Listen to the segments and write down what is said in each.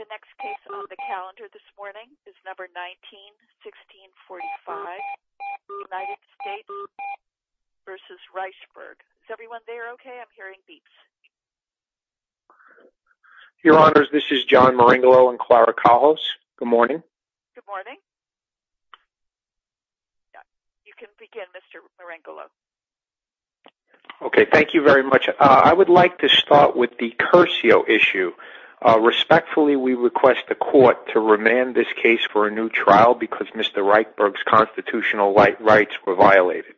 The next case on the calendar this morning is number 19-1645, United States v. Reichberg. Is everyone there okay? I'm hearing beeps. Your Honors, this is John Marengolo and Clara Cahos. Good morning. Good morning. You can begin, Mr. Marengolo. Okay, thank you very much. I would like to start with the Curcio issue. Respectfully, we request the Court to remand this case for a new trial because Mr. Reichberg's constitutional rights were violated.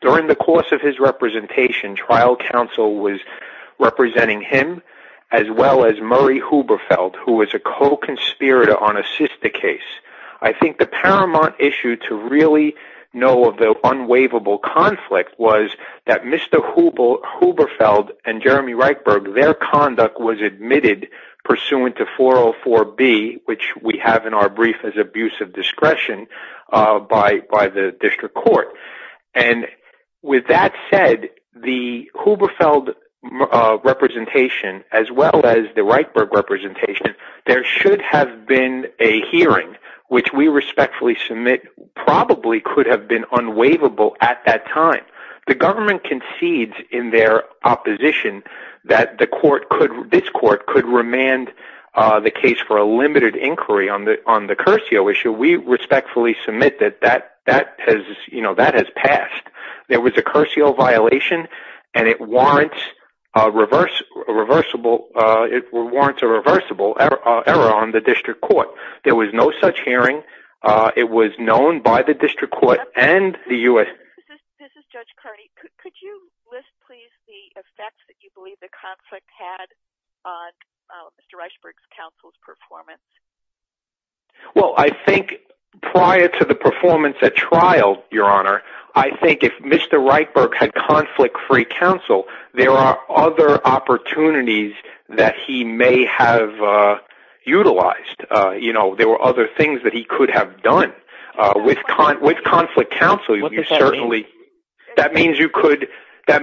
During the course of his representation, trial counsel was representing him, as well as Murray Huberfeld, who was a co-conspirator on a sister case. I think the paramount issue to really know of the unwaivable conflict was that Mr. Huberfeld and Jeremy Reichberg, their conduct was admitted pursuant to 404B, which we have in our brief as abuse of discretion by the District Court. With that said, the Huberfeld representation, as well as the Reichberg representation, there should have been a hearing, which we respectfully submit probably could have been unwaivable at that time. The government concedes in their opposition that this Court could remand the case for a limited inquiry on the Curcio issue. We respectfully submit that that has passed. There was a Curcio violation, and it warrants a reversible error on the District Court. There was no such hearing. It was known by the District Court and the U.S. This is Judge Carney. Could you list, please, the effects that you believe the conflict had on Mr. Reichberg's counsel's performance? Well, I think prior to the performance at trial, Your Honor, I think if Mr. Reichberg had conflict-free counsel, there are other opportunities that he may have utilized. There were other things that he could have done with conflict counsel. What does that mean? That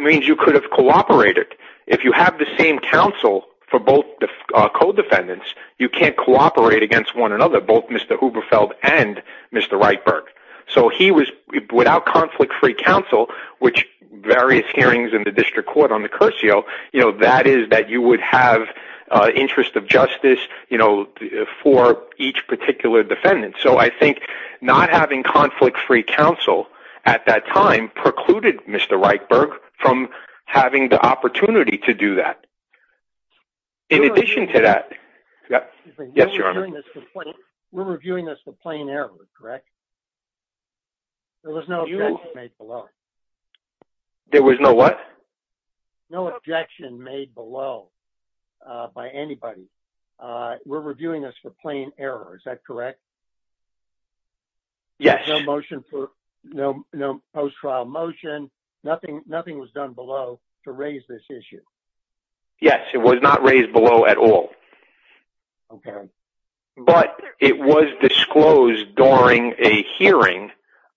means you could have cooperated. If you have the same counsel for both co-defendants, you can't cooperate against one another, both Mr. Huberfeld and Mr. Reichberg. Without conflict-free counsel, which various hearings in the District Court on the Curcio, that is that you would have interest of justice for each particular defendant. So I think not having conflict-free counsel at that time precluded Mr. Reichberg from having the opportunity to do that. In addition to that... We're reviewing this for plain error, correct? There was no objection made below. There was no what? No objection made below by anybody. We're reviewing this for plain error, is that correct? Yes. No post-trial motion. Nothing was done below to raise this issue. Yes, it was not raised below at all. Okay. But it was disclosed during a hearing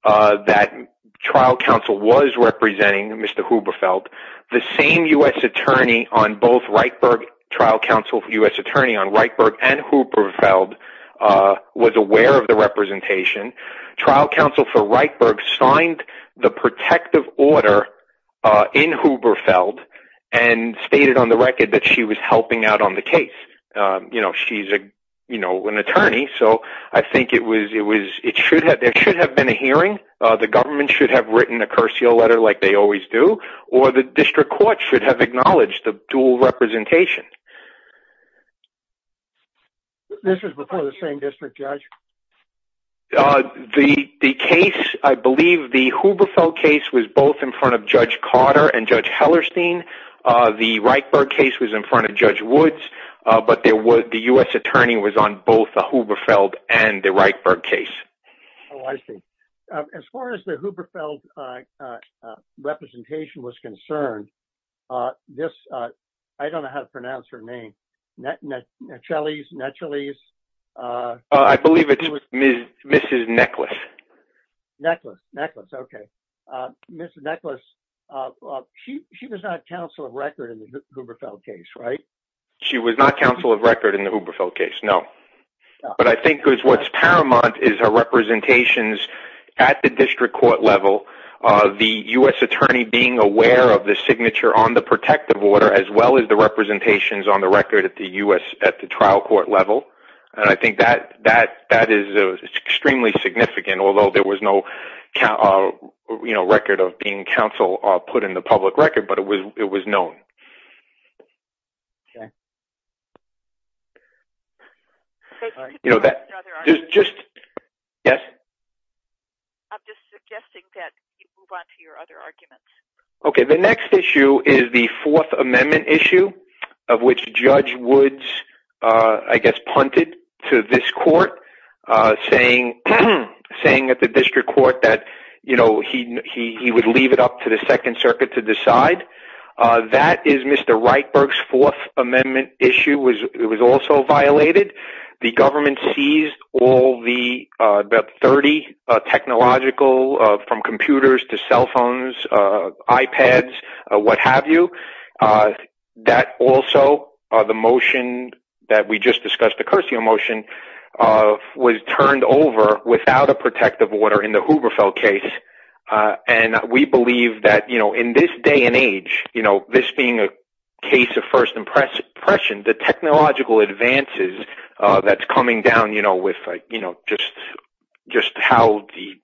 that trial counsel was representing Mr. Huberfeld. The same U.S. attorney on both Reichberg, trial counsel for U.S. attorney on Reichberg and Huberfeld, was aware of the representation. Trial counsel for Reichberg signed the protective order in Huberfeld and stated on the record that she was helping out on the case. She's an attorney, so I think there should have been a hearing. The government should have written a Curcio letter like they always do. Or the District Court should have acknowledged the dual representation. This was before the same district, Judge? The case, I believe the Huberfeld case was both in front of Judge Carter and Judge Hellerstein. The Reichberg case was in front of Judge Woods. But the U.S. attorney was on both the Huberfeld and the Reichberg case. Oh, I see. As far as the Huberfeld representation was concerned, I don't know how to pronounce her name. I believe it's Mrs. Necklace. Necklace, okay. Mrs. Necklace, she was not counsel of record in the Huberfeld case, right? She was not counsel of record in the Huberfeld case, no. But I think what's paramount is her representations at the District Court level. The U.S. attorney being aware of the signature on the protective order as well as the representations on the record at the trial court level. And I think that is extremely significant, although there was no record of being counsel put in the public record, but it was known. Okay. Could you move on to your other arguments? Yes? I'm just suggesting that you move on to your other arguments. Okay, the next issue is the Fourth Amendment issue, of which Judge Woods, I guess, punted to this court, saying at the District Court that he would leave it up to the Second Circuit to decide. That is Mr. Reichberg's Fourth Amendment issue. It was also violated. The government seized all the about 30 technological, from computers to cell phones, iPads, what have you. That also, the motion that we just discussed, the Curcio motion, was turned over without a protective order in the Huberfeld case. And we believe that in this day and age, this being a case of first impression, the technological advances that's coming down with just how the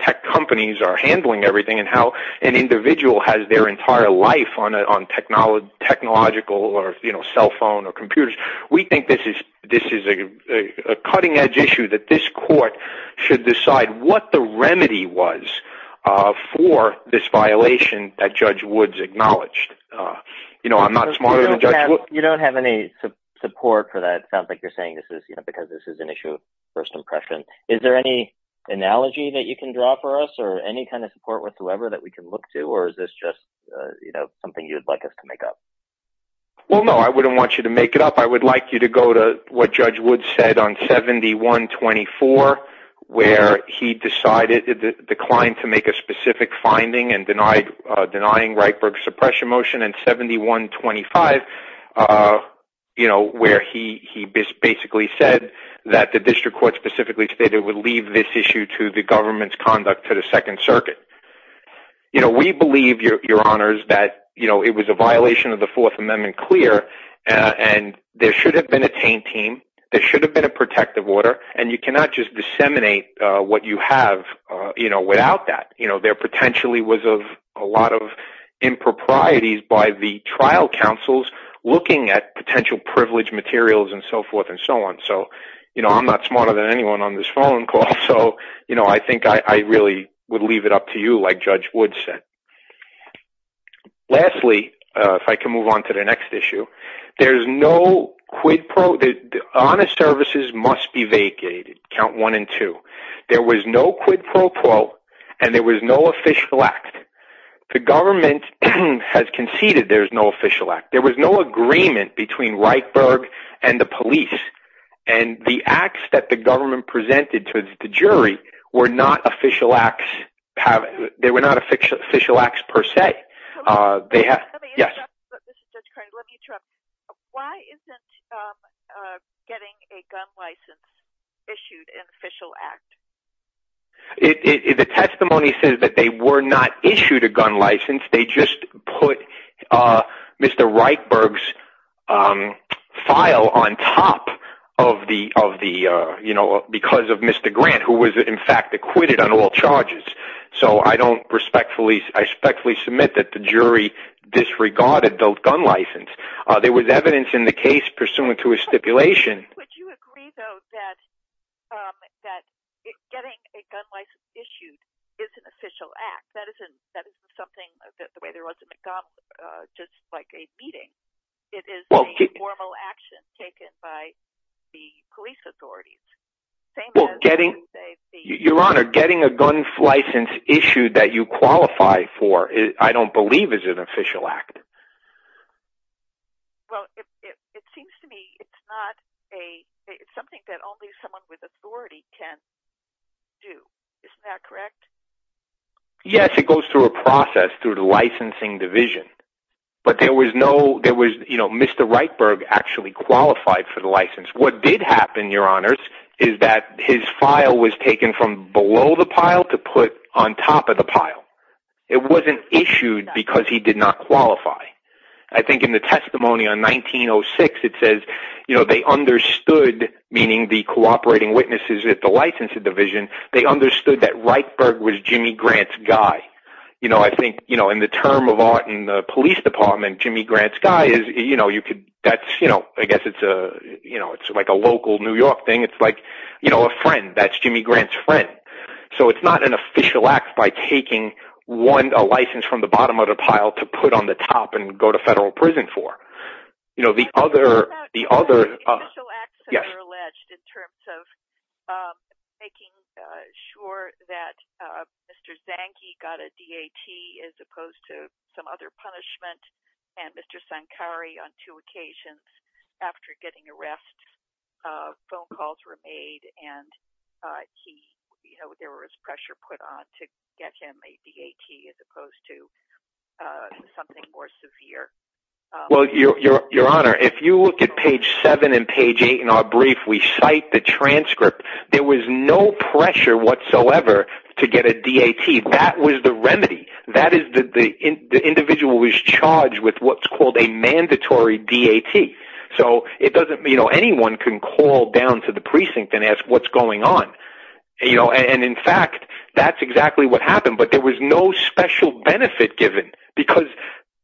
tech companies are handling everything and how an individual has their entire life on technological or cell phone or computers, we think this is a cutting-edge issue that this court should decide what the remedy was for this violation that Judge Woods acknowledged. You know, I'm not smarter than Judge Woods. You don't have any support for that. It sounds like you're saying this is because this is an issue of first impression. Is there any analogy that you can draw for us or any kind of support whatsoever that we can look to, or is this just something you'd like us to make up? Well, no, I wouldn't want you to make it up. I would like you to go to what Judge Woods said on 71-24, where he decided, declined to make a specific finding and denying Reichberg's suppression motion, and 71-25, where he basically said that the district court specifically stated it would leave this issue to the government's conduct to the Second Circuit. You know, we believe, Your Honors, that it was a violation of the Fourth Amendment, clear, and there should have been a Taint Team, there should have been a protective order, and you cannot just disseminate what you have, you know, without that. You know, there potentially was a lot of improprieties by the trial counsels looking at potential privilege materials and so forth and so on. So, you know, I'm not smarter than anyone on this phone call, so, you know, I think I really would leave it up to you, like Judge Woods said. Lastly, if I can move on to the next issue, there's no quid pro—Honest Services must be vacated, count one and two. There was no quid pro quo, and there was no official act. The government has conceded there's no official act. There was no agreement between Reichberg and the police, and the acts that the government presented to the jury were not official acts per se. They have—yes? Let me interrupt. This is Judge Carney. Let me interrupt. Why isn't getting a gun license issued an official act? The testimony says that they were not issued a gun license. They just put Mr. Reichberg's file on top of the—you know, because of Mr. Grant, who was, in fact, acquitted on all charges. So, I don't respectfully—I respectfully submit that the jury disregarded the gun license. There was evidence in the case pursuant to a stipulation— Getting a gun license issued is an official act. That isn't something—the way there was at McDonald's, just like a meeting. It is a formal action taken by the police authorities. Well, getting— Same as, you say, the— Your Honor, getting a gun license issued that you qualify for, I don't believe, is an official act. Well, it seems to me it's not a—it's something that only someone with authority can do. Isn't that correct? Yes, it goes through a process through the licensing division. But there was no—there was—you know, Mr. Reichberg actually qualified for the license. What did happen, Your Honors, is that his file was taken from below the pile to put on top of the pile. It wasn't issued because he did not qualify. I think in the testimony on 1906, it says, you know, they understood, meaning the cooperating witnesses at the licensing division, they understood that Reichberg was Jimmy Grant's guy. You know, I think, you know, in the term of art in the police department, Jimmy Grant's guy is, you know, you could— That's, you know, I guess it's a, you know, it's like a local New York thing. It's like, you know, a friend. That's Jimmy Grant's friend. So it's not an official act by taking one—a license from the bottom of the pile to put on the top and go to federal prison for. You know, the other— It's about the official acts that are alleged in terms of making sure that Mr. Zanke got a DAT as opposed to some other punishment, and Mr. Zankari on two occasions after getting arrest, phone calls were made, and he—you know, there was pressure put on to get him a DAT as opposed to something more severe. Well, Your Honor, if you look at page 7 and page 8 in our brief, we cite the transcript. There was no pressure whatsoever to get a DAT. That was the remedy. That is—the individual was charged with what's called a mandatory DAT. So it doesn't—you know, anyone can call down to the precinct and ask what's going on. You know, and in fact, that's exactly what happened. But there was no special benefit given because,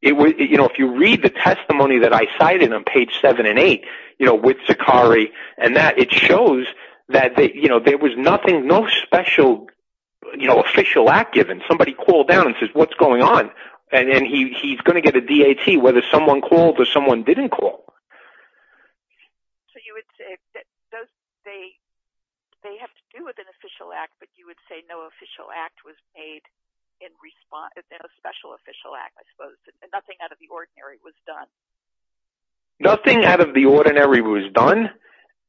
you know, if you read the testimony that I cited on page 7 and 8, you know, with Zankari, and that it shows that, you know, there was nothing—no special, you know, official act given. Somebody called down and says, what's going on? And then he's going to get a DAT whether someone called or someone didn't call. So you would say that they have to do with an official act, but you would say no official act was made in response—no special official act, I suppose. Nothing out of the ordinary was done. Nothing out of the ordinary was done.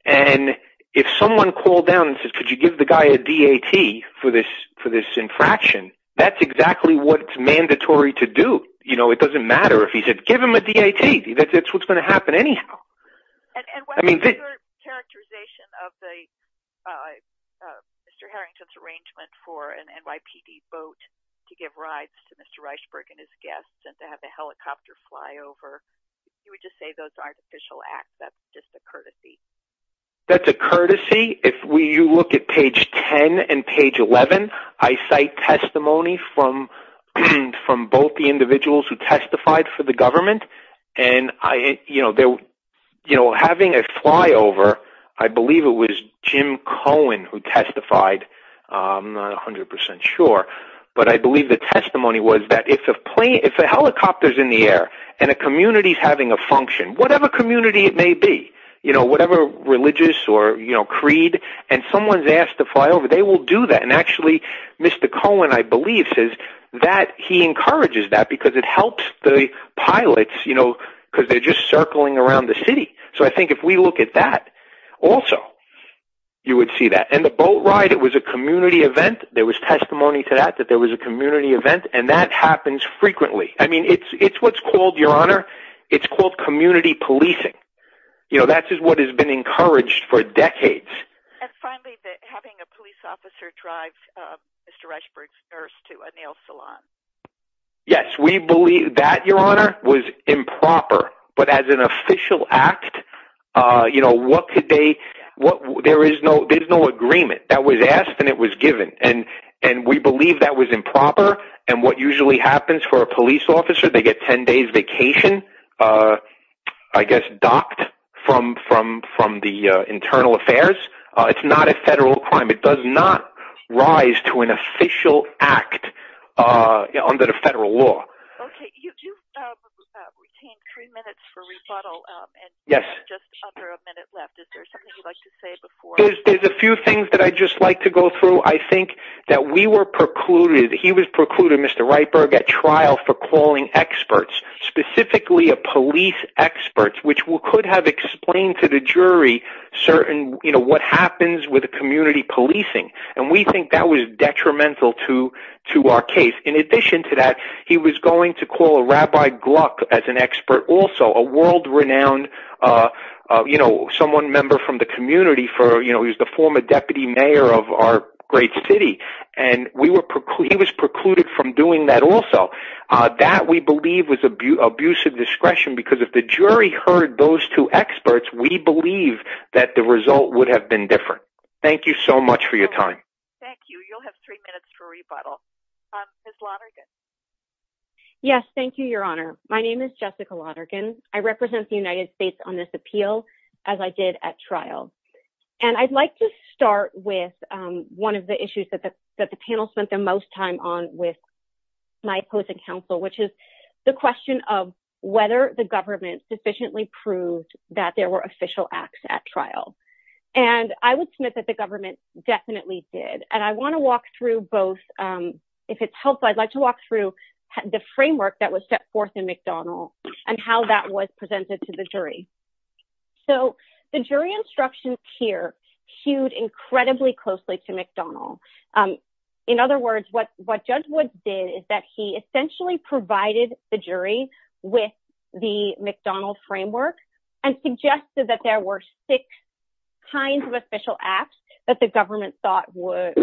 And if someone called down and said, could you give the guy a DAT for this infraction, that's exactly what's mandatory to do. You know, it doesn't matter if he said, give him a DAT. That's what's going to happen anyhow. And what is your characterization of Mr. Harrington's arrangement for an NYPD boat to give rides to Mr. Reichberg and his guests and to have the helicopter fly over? You would just say those aren't official acts. That's just a courtesy. That's a courtesy. If you look at page 10 and page 11, I cite testimony from both the individuals who testified for the government. You know, having a flyover, I believe it was Jim Cohen who testified, I'm not 100% sure. But I believe the testimony was that if a helicopter's in the air and a community's having a function, whatever community it may be, whatever religious or creed, and someone's asked to fly over, they will do that. And actually, Mr. Cohen, I believe, says that he encourages that because it helps the pilots, you know, because they're just circling around the city. So I think if we look at that also, you would see that. And the boat ride, it was a community event. There was testimony to that that there was a community event. And that happens frequently. I mean, it's what's called, Your Honor, it's called community policing. You know, that is what has been encouraged for decades. And finally, having a police officer drive Mr. Reichberg's nurse to a nail salon. Yes, we believe that, Your Honor, was improper. But as an official act, you know, what could they, there is no agreement. That was asked and it was given. And we believe that was improper. And what usually happens for a police officer, they get 10 days vacation, I guess, docked from the internal affairs. It's not a federal crime. It does not rise to an official act under the federal law. Okay. You've retained three minutes for rebuttal. Yes. And you have just under a minute left. Is there something you'd like to say before? There's a few things that I'd just like to go through. I think that we were precluded, he was precluded, Mr. Reichberg, at trial for calling experts, specifically a police expert, which could have explained to the jury certain, you know, what happens with community policing. And we think that was detrimental to our case. In addition to that, he was going to call a Rabbi Gluck as an expert also, a world-renowned, you know, someone member from the community for, you know, he was the former deputy mayor of our great city. And he was precluded from doing that also. That, we believe, was abusive discretion because if the jury heard those two experts, we believe that the result would have been different. Thank you so much for your time. You'll have three minutes for rebuttal. Ms. Lonergan. Yes. Thank you, Your Honor. My name is Jessica Lonergan. I represent the United States on this appeal, as I did at trial. And I'd like to start with one of the issues that the panel spent the most time on with my opposing counsel, which is the question of whether the government sufficiently proved that there were official acts at trial. And I would submit that the government definitely did. And I want to walk through both. If it's helpful, I'd like to walk through the framework that was set forth in McDonnell and how that was presented to the jury. So the jury instructions here hewed incredibly closely to McDonnell. In other words, what Judge Woods did is that he essentially provided the jury with the McDonnell framework and suggested that there were six kinds of official acts that the government thought were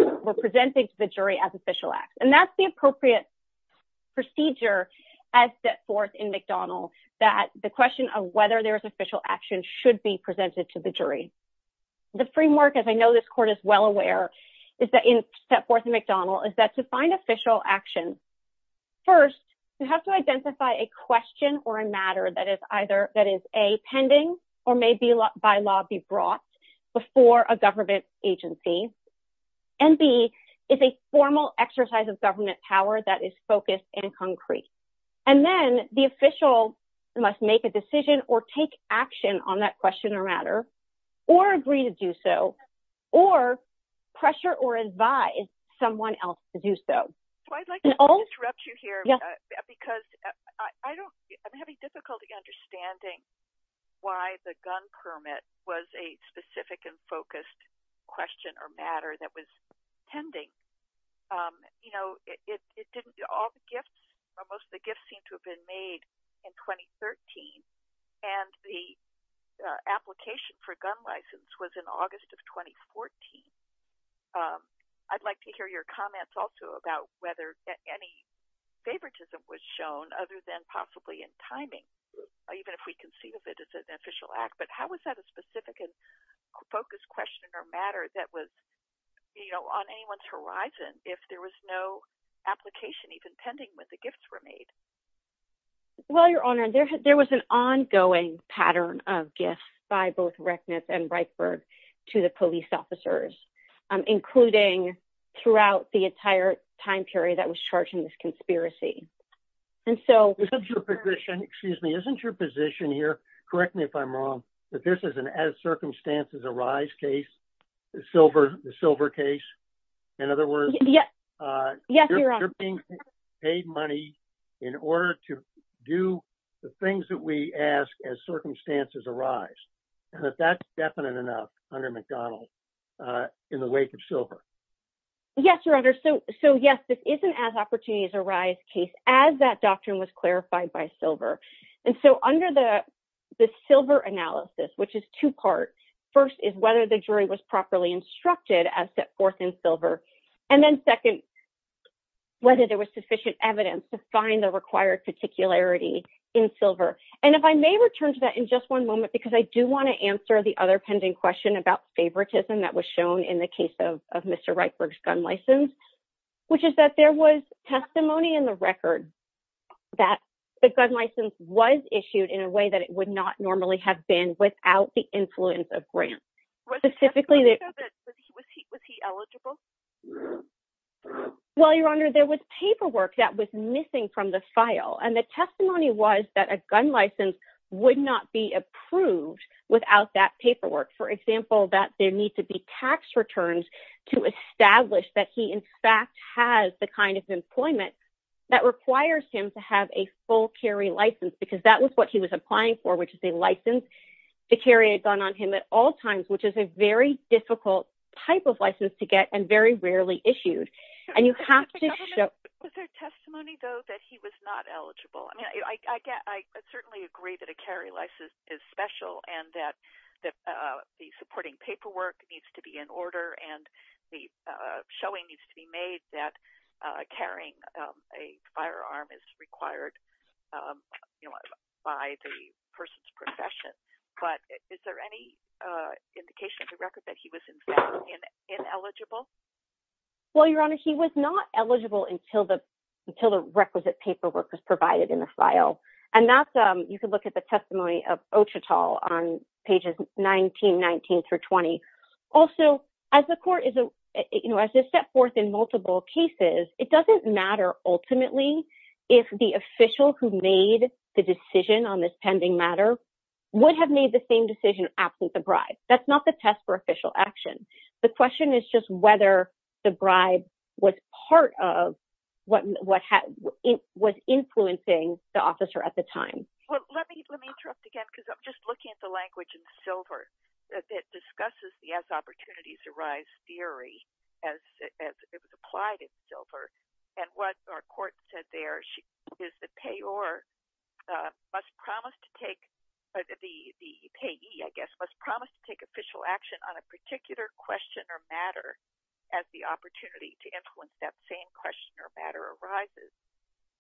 presented to the jury as official acts. And that's the appropriate procedure as set forth in McDonnell, that the question of whether there was official action should be presented to the jury. The framework, as I know this court is well aware, is that in set forth in McDonnell is that to find official action. First, you have to identify a question or a matter that is either that is a pending or may be by law be brought before a government agency. And B is a formal exercise of government power that is focused and concrete. And then the official must make a decision or take action on that question or matter or agree to do so or pressure or advise someone else to do so. I'd like to interrupt you here because I'm having difficulty understanding why the gun permit was a specific and focused question or matter that was pending. You know, it didn't do all the gifts. Most of the gifts seem to have been made in 2013. And the application for gun license was in August of 2014. I'd like to hear your comments also about whether any favoritism was shown other than possibly in timing, even if we conceive of it as an official act. But how is that a specific focus question or matter that was, you know, on anyone's horizon if there was no application even pending with the gifts were made? Well, your honor, there was an ongoing pattern of gifts by both Reckness and Breitbart to the police officers, including throughout the entire time period that was charging this conspiracy. Excuse me, isn't your position here, correct me if I'm wrong, that this is an as circumstances arise case, the silver case? In other words, you're being paid money in order to do the things that we ask as circumstances arise. And that's definite enough under McDonald in the wake of silver. Yes, your honor. So yes, this isn't as opportunities arise case as that doctrine was clarified by silver. And so under the silver analysis, which is two part, first is whether the jury was properly instructed as set forth in silver. And then second, whether there was sufficient evidence to find the required particularity in silver. And if I may return to that in just one moment, because I do want to answer the other pending question about favoritism that was shown in the case of Mr. Reitberg's gun license, which is that there was testimony in the record that the gun license was issued in a way that it would not normally have been without the influence of grants. Was he eligible? Well, your honor, there was paperwork that was missing from the file. And the testimony was that a gun license would not be approved without that paperwork. For example, that there needs to be tax returns to establish that he in fact has the kind of employment that requires him to have a full carry license, because that was what he was applying for, which is a license to carry a gun on him at all times, which is a very difficult type of license to get and very rarely issued. Was there testimony, though, that he was not eligible? I mean, I certainly agree that a carry license is special and that the supporting paperwork needs to be in order and the showing needs to be made that carrying a firearm is required by the person's profession. But is there any indication of the record that he was in fact ineligible? Well, your honor, he was not eligible until the until the requisite paperwork was provided in the file. And that's you can look at the testimony of Ochetal on pages 19, 19 through 20. Also, as the court is a step forth in multiple cases, it doesn't matter ultimately if the official who made the decision on this pending matter would have made the same decision after the bribe. That's not the test for official action. The question is just whether the bribe was part of what was influencing the officer at the time. Well, let me let me interrupt again, because I'm just looking at the language in silver that discusses the as opportunities arise theory as it was applied in silver. And what our court said there is the payor must promise to take the payee, I guess, must promise to take official action on a particular question or matter as the opportunity to influence that same question or matter arises.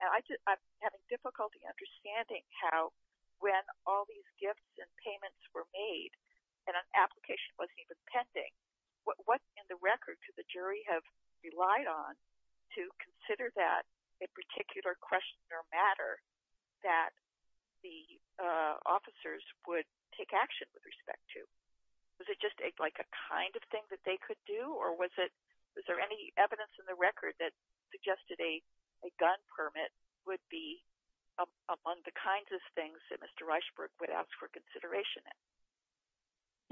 I'm having difficulty understanding how when all these gifts and payments were made and an application was even pending. What what in the record to the jury have relied on to consider that a particular question or matter that the officers would take action with respect to? Was it just like a kind of thing that they could do or was it was there any evidence in the record that suggested a gun permit would be among the kinds of things that Mr. Reichberg would ask for consideration?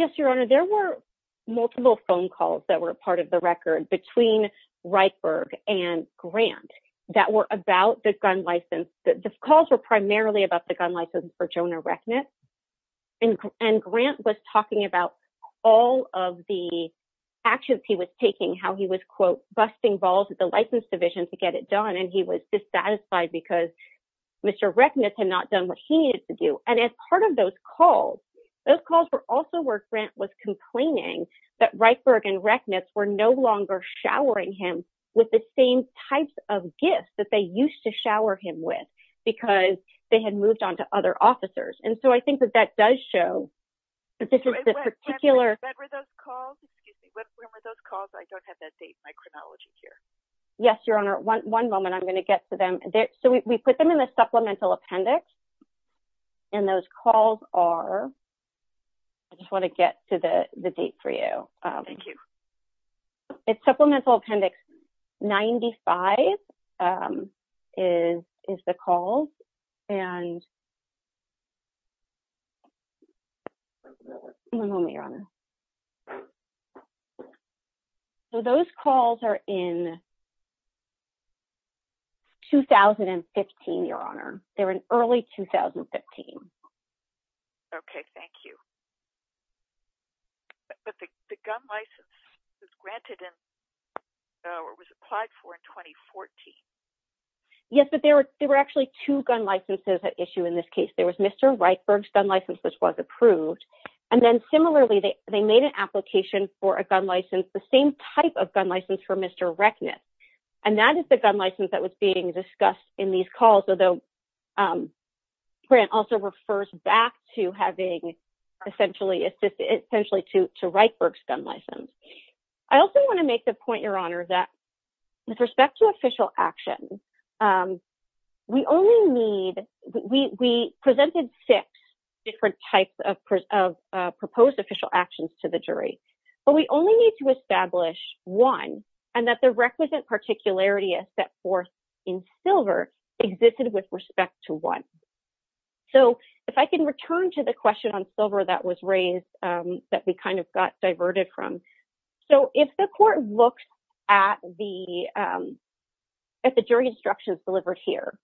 Yes, Your Honor, there were multiple phone calls that were part of the record between Reichberg and Grant that were about the gun license. The calls were primarily about the gun license for Jonah Reckness and Grant was talking about all of the actions he was taking, how he was, quote, busting balls at the license division to get it done. And he was dissatisfied because Mr. Reckness had not done what he needed to do. And as part of those calls, those calls were also where Grant was complaining that Reichberg and Reckness were no longer showering him with the same types of gifts that they used to shower him with because they had moved on to other officers. And so I think that that does show that this is a particular. That were those calls. When were those calls? I don't have that date in my chronology here. Yes, Your Honor, one moment, I'm going to get to them. So we put them in the supplemental appendix. And those calls are. I just want to get to the date for you. Thank you. It's supplemental appendix 95 is is the call and. One moment, Your Honor. So those calls are in. 2015, Your Honor, they were in early 2015. OK, thank you. But the gun license is granted and. It was applied for in 2014. Yes, but there were there were actually two gun licenses at issue in this case. There was Mr. Reichberg's gun license, which was approved. And then similarly, they made an application for a gun license, the same type of gun license for Mr. Reckness. And that is the gun license that was being discussed in these calls, although. Grant also refers back to having essentially assisted essentially to to Reichberg's gun license. I also want to make the point, Your Honor, that with respect to official action, we only need we presented six different types of proposed official actions to the jury. But we only need to establish one and that the requisite particularity is set forth in silver existed with respect to one. So if I can return to the question on silver that was raised that we kind of got diverted from. So if the court looks at the at the jury instructions delivered here,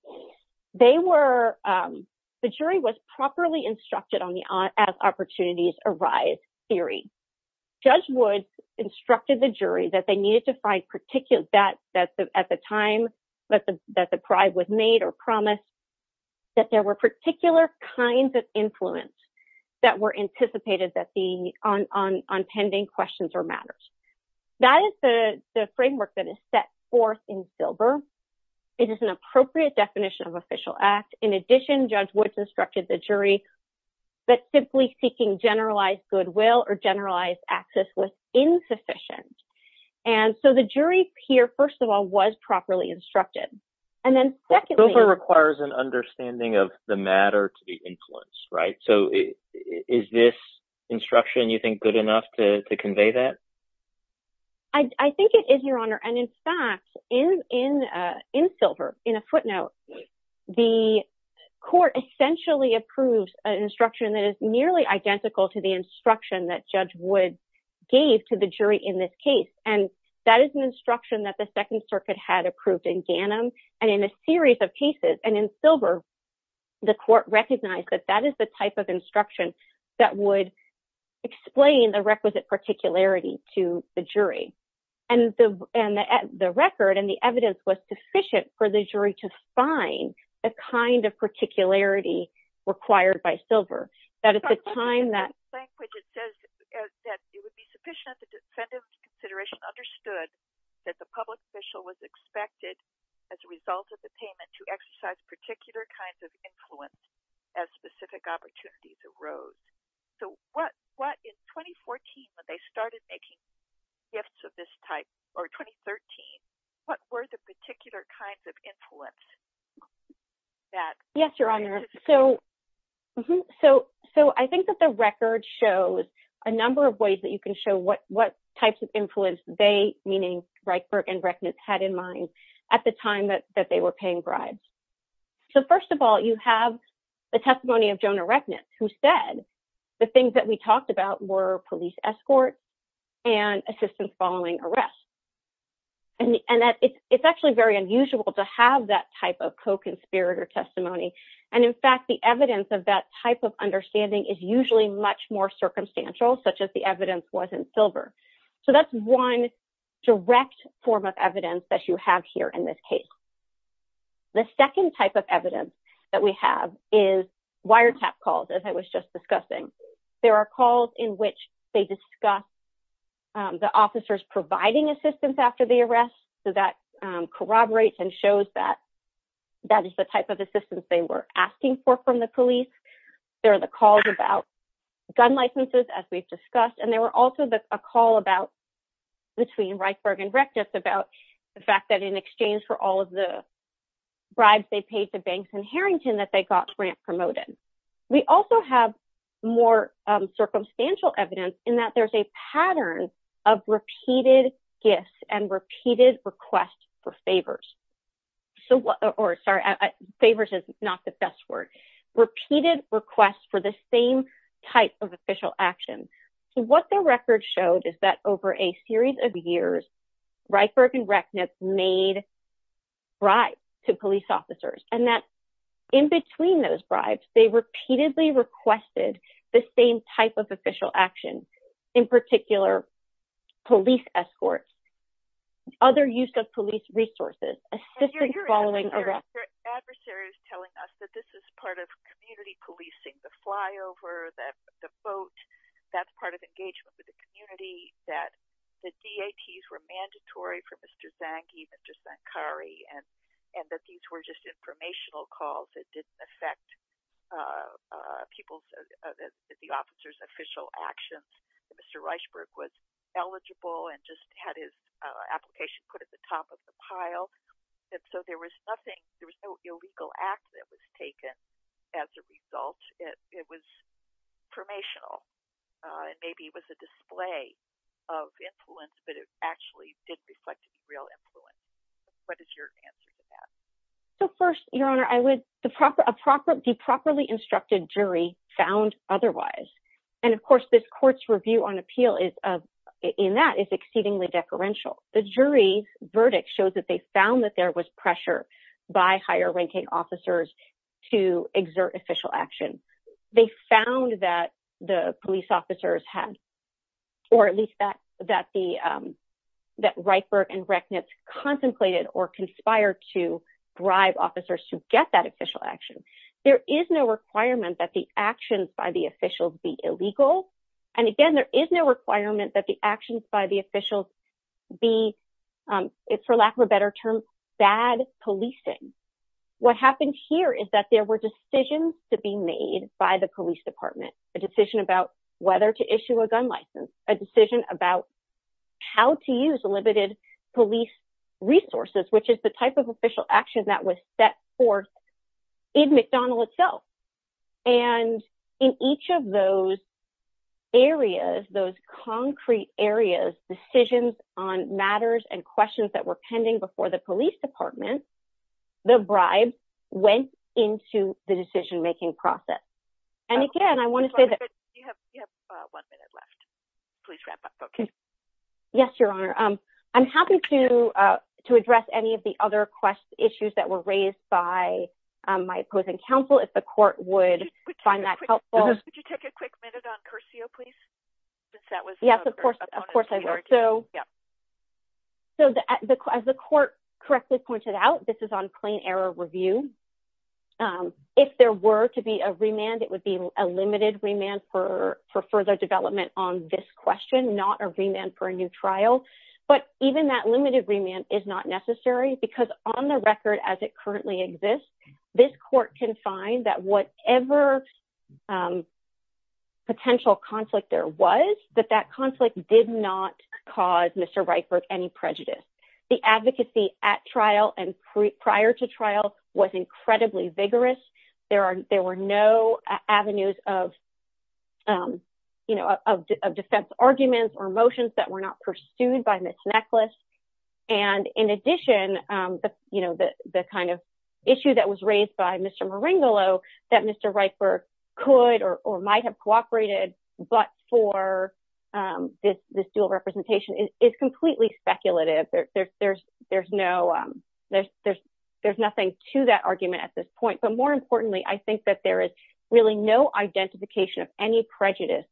they were the jury was properly instructed on the as opportunities arise theory. Judge Woods instructed the jury that they needed to find particular that that at the time that the that the pride was made or promise. That there were particular kinds of influence that were anticipated that the on on on pending questions or matters that is the framework that is set forth in silver. It is an appropriate definition of official act. In addition, Judge Woods instructed the jury that simply seeking generalized goodwill or generalized access was insufficient. And so the jury here, first of all, was properly instructed. And then secondly, requires an understanding of the matter to be influenced. Right. So is this instruction, you think, good enough to convey that? I think it is, Your Honor. And in fact, in in in silver, in a footnote, the court essentially approves an instruction that is nearly identical to the instruction that Judge Woods gave to the jury in this case. And that is an instruction that the Second Circuit had approved in Ghanem and in a series of cases. And in silver, the court recognized that that is the type of instruction that would explain the requisite particularity to the jury and the and the record and the evidence was sufficient for the jury to find the kind of particularity required by silver. It says that it would be sufficient that the defendant's consideration understood that the public official was expected as a result of the payment to exercise particular kinds of influence as specific opportunities arose. So what what in 2014 when they started making gifts of this type or 2013, what were the particular kinds of influence that Yes, Your Honor. So so so I think that the record shows a number of ways that you can show what what types of influence they meaning Reichberg and Reckness had in mind at the time that that they were paying bribes. So first of all, you have the testimony of Jonah Reckness, who said the things that we talked about were police escort and assistance following arrest. And it's actually very unusual to have that type of co-conspirator testimony. And in fact, the evidence of that type of understanding is usually much more circumstantial, such as the evidence was in silver. So that's one direct form of evidence that you have here in this case. The second type of evidence that we have is wiretap calls, as I was just discussing. There are calls in which they discuss the officers providing assistance after the arrest. So that corroborates and shows that that is the type of assistance they were asking for from the police. There are the calls about gun licenses, as we've discussed, and there were also a call about between Reichberg and Reckness about the fact that in exchange for all of the bribes they paid the banks in Harrington that they got grant promoted. We also have more circumstantial evidence in that there's a pattern of repeated gifts and repeated requests for favors. Favors is not the best word. Repeated requests for the same type of official action. So what the record showed is that over a series of years, Reichberg and Reckness made bribes to police officers and that in between those bribes, they repeatedly requested the same type of official action. In particular, police escorts, other use of police resources, assistance following arrest. Your adversary is telling us that this is part of community policing, the flyover, the boat, that's part of engagement with the community, that the DATs were mandatory for Mr. Zange and Mr. Zankari, and that these were just informational calls that didn't affect the officer's official actions. Mr. Reichberg was eligible and just had his application put at the top of the pile, and so there was no illegal act that was taken as a result. It was informational. Maybe it was a display of influence, but it actually did reflect real influence. What is your answer to that? So first, Your Honor, a properly instructed jury found otherwise, and of course this court's review on appeal in that is exceedingly deferential. The jury's verdict shows that they found that there was pressure by higher ranking officers to exert official action. They found that the police officers had, or at least that Reichberg and Reckness contemplated or conspired to bribe officers to get that official action. There is no requirement that the actions by the officials be illegal. And again, there is no requirement that the actions by the officials be, for lack of a better term, bad policing. What happened here is that there were decisions to be made by the police department. A decision about whether to issue a gun license, a decision about how to use limited police resources, which is the type of official action that was set forth in McDonald itself. And in each of those areas, those concrete areas, decisions on matters and questions that were pending before the police department, the bribe went into the decision making process. And again, I want to say that... You have one minute left. Please wrap up. Yes, Your Honor. I'm happy to address any of the other questions, issues that were raised by my opposing counsel if the court would find that helpful. Could you take a quick minute on Curcio, please? Yes, of course I will. As the court correctly pointed out, this is on plain error review. If there were to be a remand, it would be a limited remand for further development on this question, not a remand for a new trial. But even that limited remand is not necessary because on the record as it currently exists, this court can find that whatever potential conflict there was, that that conflict did not cause Mr. Reitberg any prejudice. The advocacy at trial and prior to trial was incredibly vigorous. There were no avenues of defense arguments or motions that were not pursued by Ms. Necklace. And in addition, the kind of issue that was raised by Mr. Maringolo that Mr. Reitberg could or might have cooperated but for this dual representation is completely speculative. There's nothing to that argument at this point. But more importantly, I think that there is really no identification of any prejudice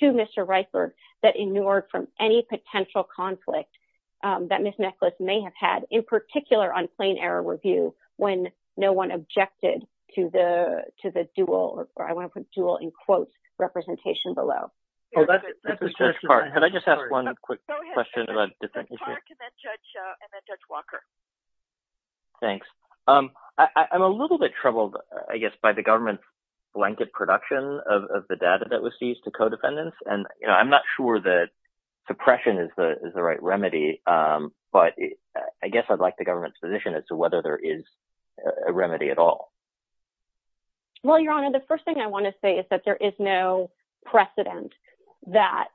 to Mr. Reitberg that ignored from any potential conflict that Ms. Necklace may have had in particular on plain error review when no one objected to the dual, or I want to put dual in quotes, representation below. Oh, that's a good question. Can I just ask one quick question about defendants? Go ahead. It's hard to met Judge Walker. Thanks. I'm a little bit troubled, I guess, by the government's blanket production of the data that was used to codefendants. And I'm not sure that suppression is the right remedy. But I guess I'd like the government's position as to whether there is a remedy at all. Well, Your Honor, the first thing I want to say is that there is no precedent that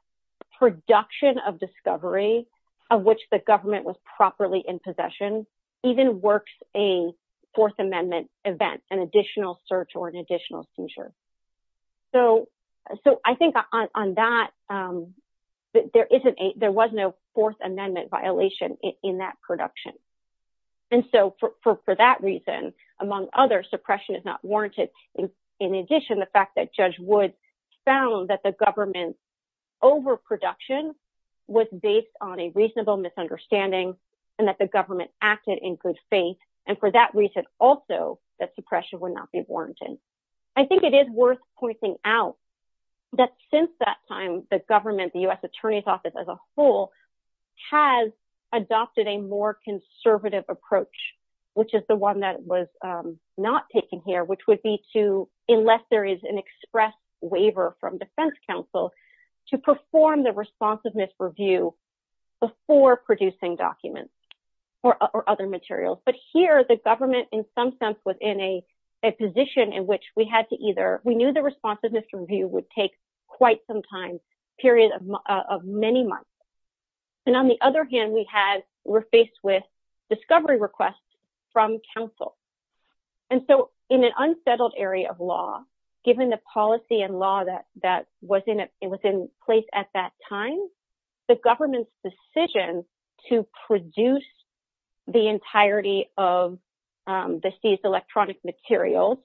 production of discovery of which the government was properly in possession even works a Fourth Amendment event, an additional search or an additional censure. So, I think on that, there was no Fourth Amendment violation in that production. And so, for that reason, among others, suppression is not warranted. In addition, the fact that Judge Wood found that the government's overproduction was based on a reasonable misunderstanding and that the government acted in good faith. And for that reason, also, that suppression would not be warranted. I think it is worth pointing out that since that time, the government, the U.S. Attorney's Office as a whole, has adopted a more conservative approach, which is the one that was not taken here, which would be to, unless there is an express waiver from defense counsel, to perform the responsiveness review before producing documents or other materials. But here, the government, in some sense, was in a position in which we knew the responsiveness review would take quite some time, a period of many months. And on the other hand, we're faced with discovery requests from counsel. And so, in an unsettled area of law, given the policy and law that was in place at that time, the government's decision to produce the entirety of the seized electronic materials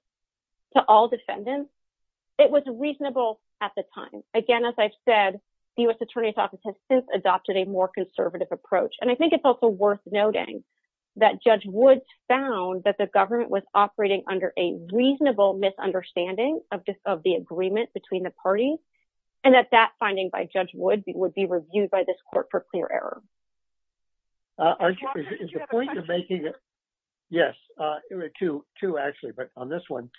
to all defendants, it was reasonable at the time. Again, as I've said, the U.S. Attorney's Office has since adopted a more conservative approach. And I think it's also worth noting that Judge Wood found that the government was operating under a reasonable misunderstanding of the agreement between the parties and that that finding by Judge Wood would be reviewed by this court for clear error. Walter, did you have a question? Yes, two, actually, but on this one,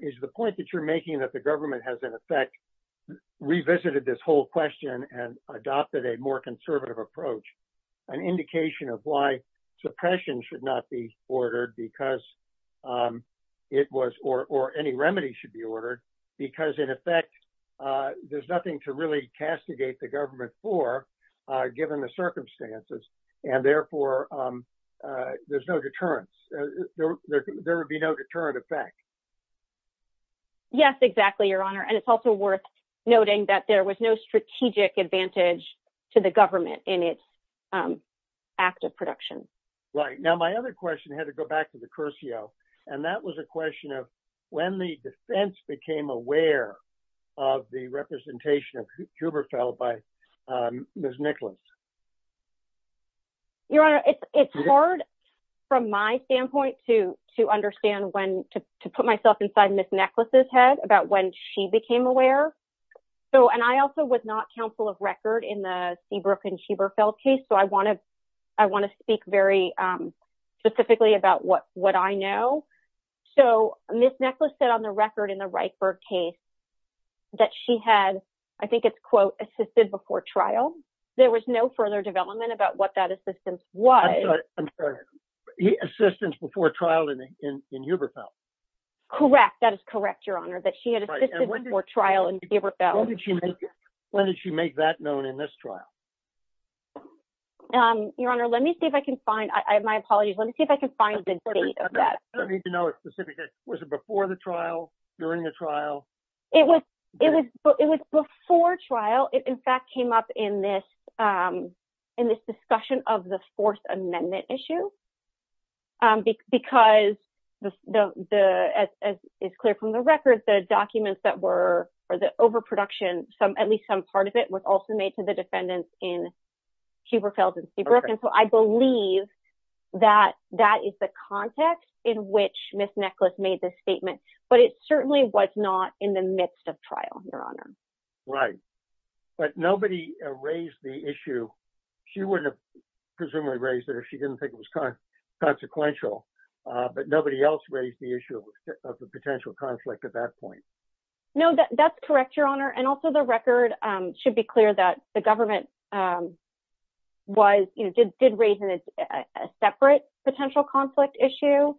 is the point that you're making that the government has, in effect, revisited this whole question and adopted a more conservative approach, an indication of why suppression should not be ordered because it was, or any remedy should be ordered, because, in effect, there's nothing to really castigate the government for, given the circumstances, and therefore, there's no deterrence. There would be no deterrent effect. Yes, exactly, Your Honor. And it's also worth noting that there was no strategic advantage to the government in its act of production. Right. Now, my other question had to go back to the Curcio, and that was a question of when the defense became aware of the representation of Huberfeld by Ms. Nicklaus. Your Honor, it's hard, from my standpoint, to put myself inside Ms. Nicklaus' head about when she became aware. And I also was not counsel of record in the Seabrook and Huberfeld case, so I want to speak very specifically about what I know. So, Ms. Nicklaus said on the record in the Reichberg case that she had, I think it's quote, assisted before trial. There was no further development about what that assistance was. I'm sorry. Assistance before trial in Huberfeld. Correct. That is correct, Your Honor, that she had assistance before trial in Huberfeld. When did she make that known in this trial? Your Honor, let me see if I can find, my apologies, let me see if I can find the date of that. I don't know if you know a specific, was it before the trial, during the trial? It was before trial. It, in fact, came up in this discussion of the Fourth Amendment issue because, as is clear from the record, the documents that were, or the overproduction, at least some part of it, was also made to the defendants in Huberfeld and Seabrook. And so I believe that that is the context in which Ms. Nicklaus made this statement, but it certainly was not in the midst of trial, Your Honor. Right. But nobody raised the issue, she wouldn't have presumably raised it if she didn't think it was consequential, but nobody else raised the issue of the potential conflict at that point. No, that's correct, Your Honor. And also the record should be clear that the government was, you know, did raise a separate potential conflict issue.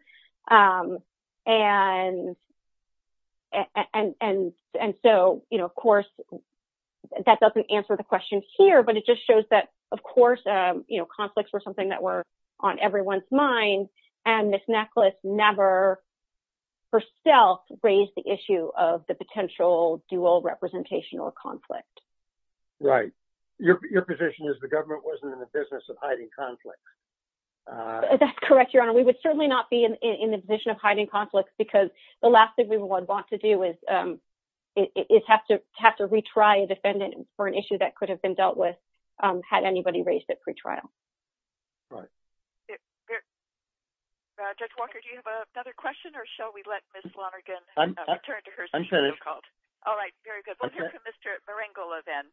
And so, you know, of course, that doesn't answer the question here, but it just shows that, of course, you know, conflicts were something that were on everyone's mind, and Ms. Nicklaus never herself raised the issue of the potential dual representation or conflict. Right. Your position is the government wasn't in the business of hiding conflicts. That's correct, Your Honor. We would certainly not be in the position of hiding conflicts because the last thing we would want to do is have to retry a defendant for an issue that could have been dealt with had anybody raised it pre-trial. Right. Judge Walker, do you have another question or shall we let Ms. Lonergan return to her seat? I'm finished. All right, very good. We'll hear from Mr. Marengola then.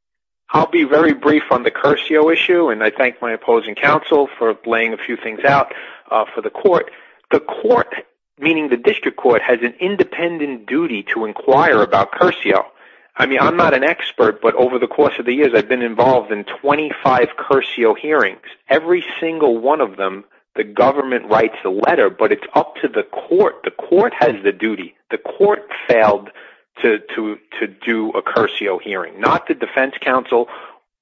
I'll be very brief on the Curcio issue, and I thank my opposing counsel for laying a few things out for the court. The court, meaning the district court, has an independent duty to inquire about Curcio. I mean, I'm not an expert, but over the course of the years, I've been involved in 25 Curcio hearings. Every single one of them, the government writes the letter, but it's up to the court. The court has the duty. The court failed to do a Curcio hearing, not the defense counsel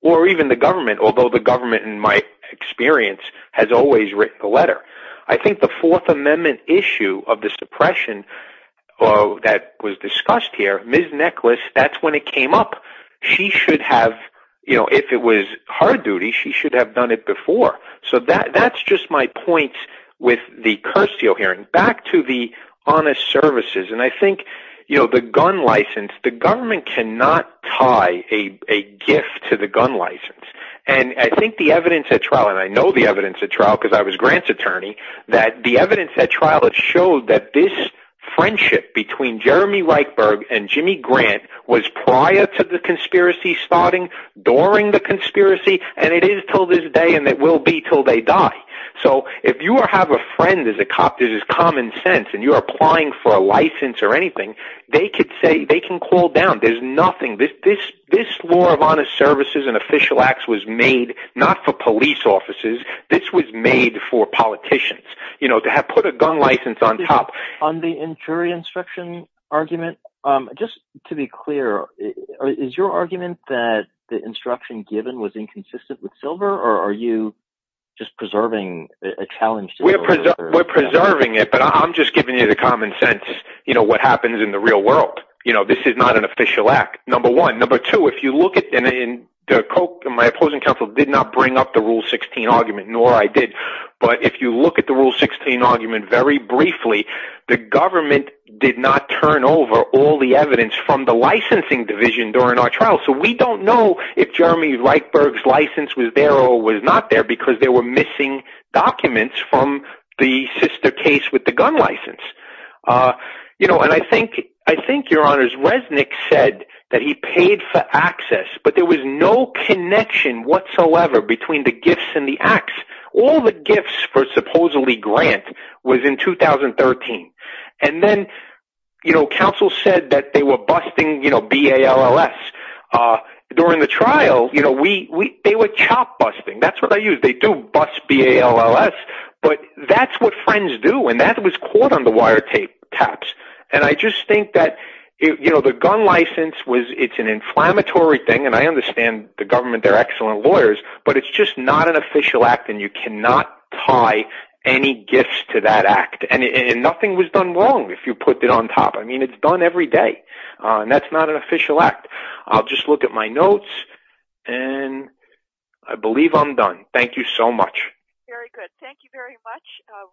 or even the government, although the government, in my experience, has always written the letter. I think the Fourth Amendment issue of the suppression that was discussed here, Ms. Necklace, that's when it came up. If it was her duty, she should have done it before. So that's just my point with the Curcio hearing. I think the evidence at trial, and I know the evidence at trial because I was Grant's attorney, that the evidence at trial showed that this friendship between Jeremy Reichberg and Jimmy Grant was prior to the conspiracy starting, during the conspiracy, and it is until this day, and it will be until they die. So if you have a friend who's a cop, there's this common sense, and you're applying for a license or anything, they can call down. There's nothing. This law of honest services and official acts was made not for police officers. This was made for politicians to have put a gun license on top. On the jury instruction argument, just to be clear, is your argument that the instruction given was inconsistent with Silver, or are you just preserving a challenge to Silver? We're preserving it, but I'm just giving you the common sense, what happens in the real world. This is not an official act, number one. Number two, if you look at – and my opposing counsel did not bring up the Rule 16 argument, nor I did. But if you look at the Rule 16 argument very briefly, the government did not turn over all the evidence from the licensing division during our trial. So we don't know if Jeremy Reichberg's license was there or was not there because there were missing documents from the sister case with the gun license. And I think, Your Honors, Resnick said that he paid for access, but there was no connection whatsoever between the gifts and the acts. All the gifts for supposedly Grant was in 2013. And then counsel said that they were busting BALLS. During the trial, they were chop busting. That's what I use. They do bust BALLS. But that's what friends do, and that was caught on the wiretaps. And I just think that the gun license, it's an inflammatory thing, and I understand the government, they're excellent lawyers. But it's just not an official act, and you cannot tie any gifts to that act. And nothing was done wrong if you put it on top. I mean, it's done every day. And that's not an official act. I'll just look at my notes, and I believe I'm done. Thank you so much. Very good. Thank you very much.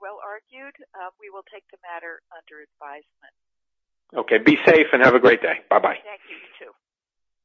Well argued. We will take the matter under advisement. Okay. Be safe and have a great day. Bye-bye.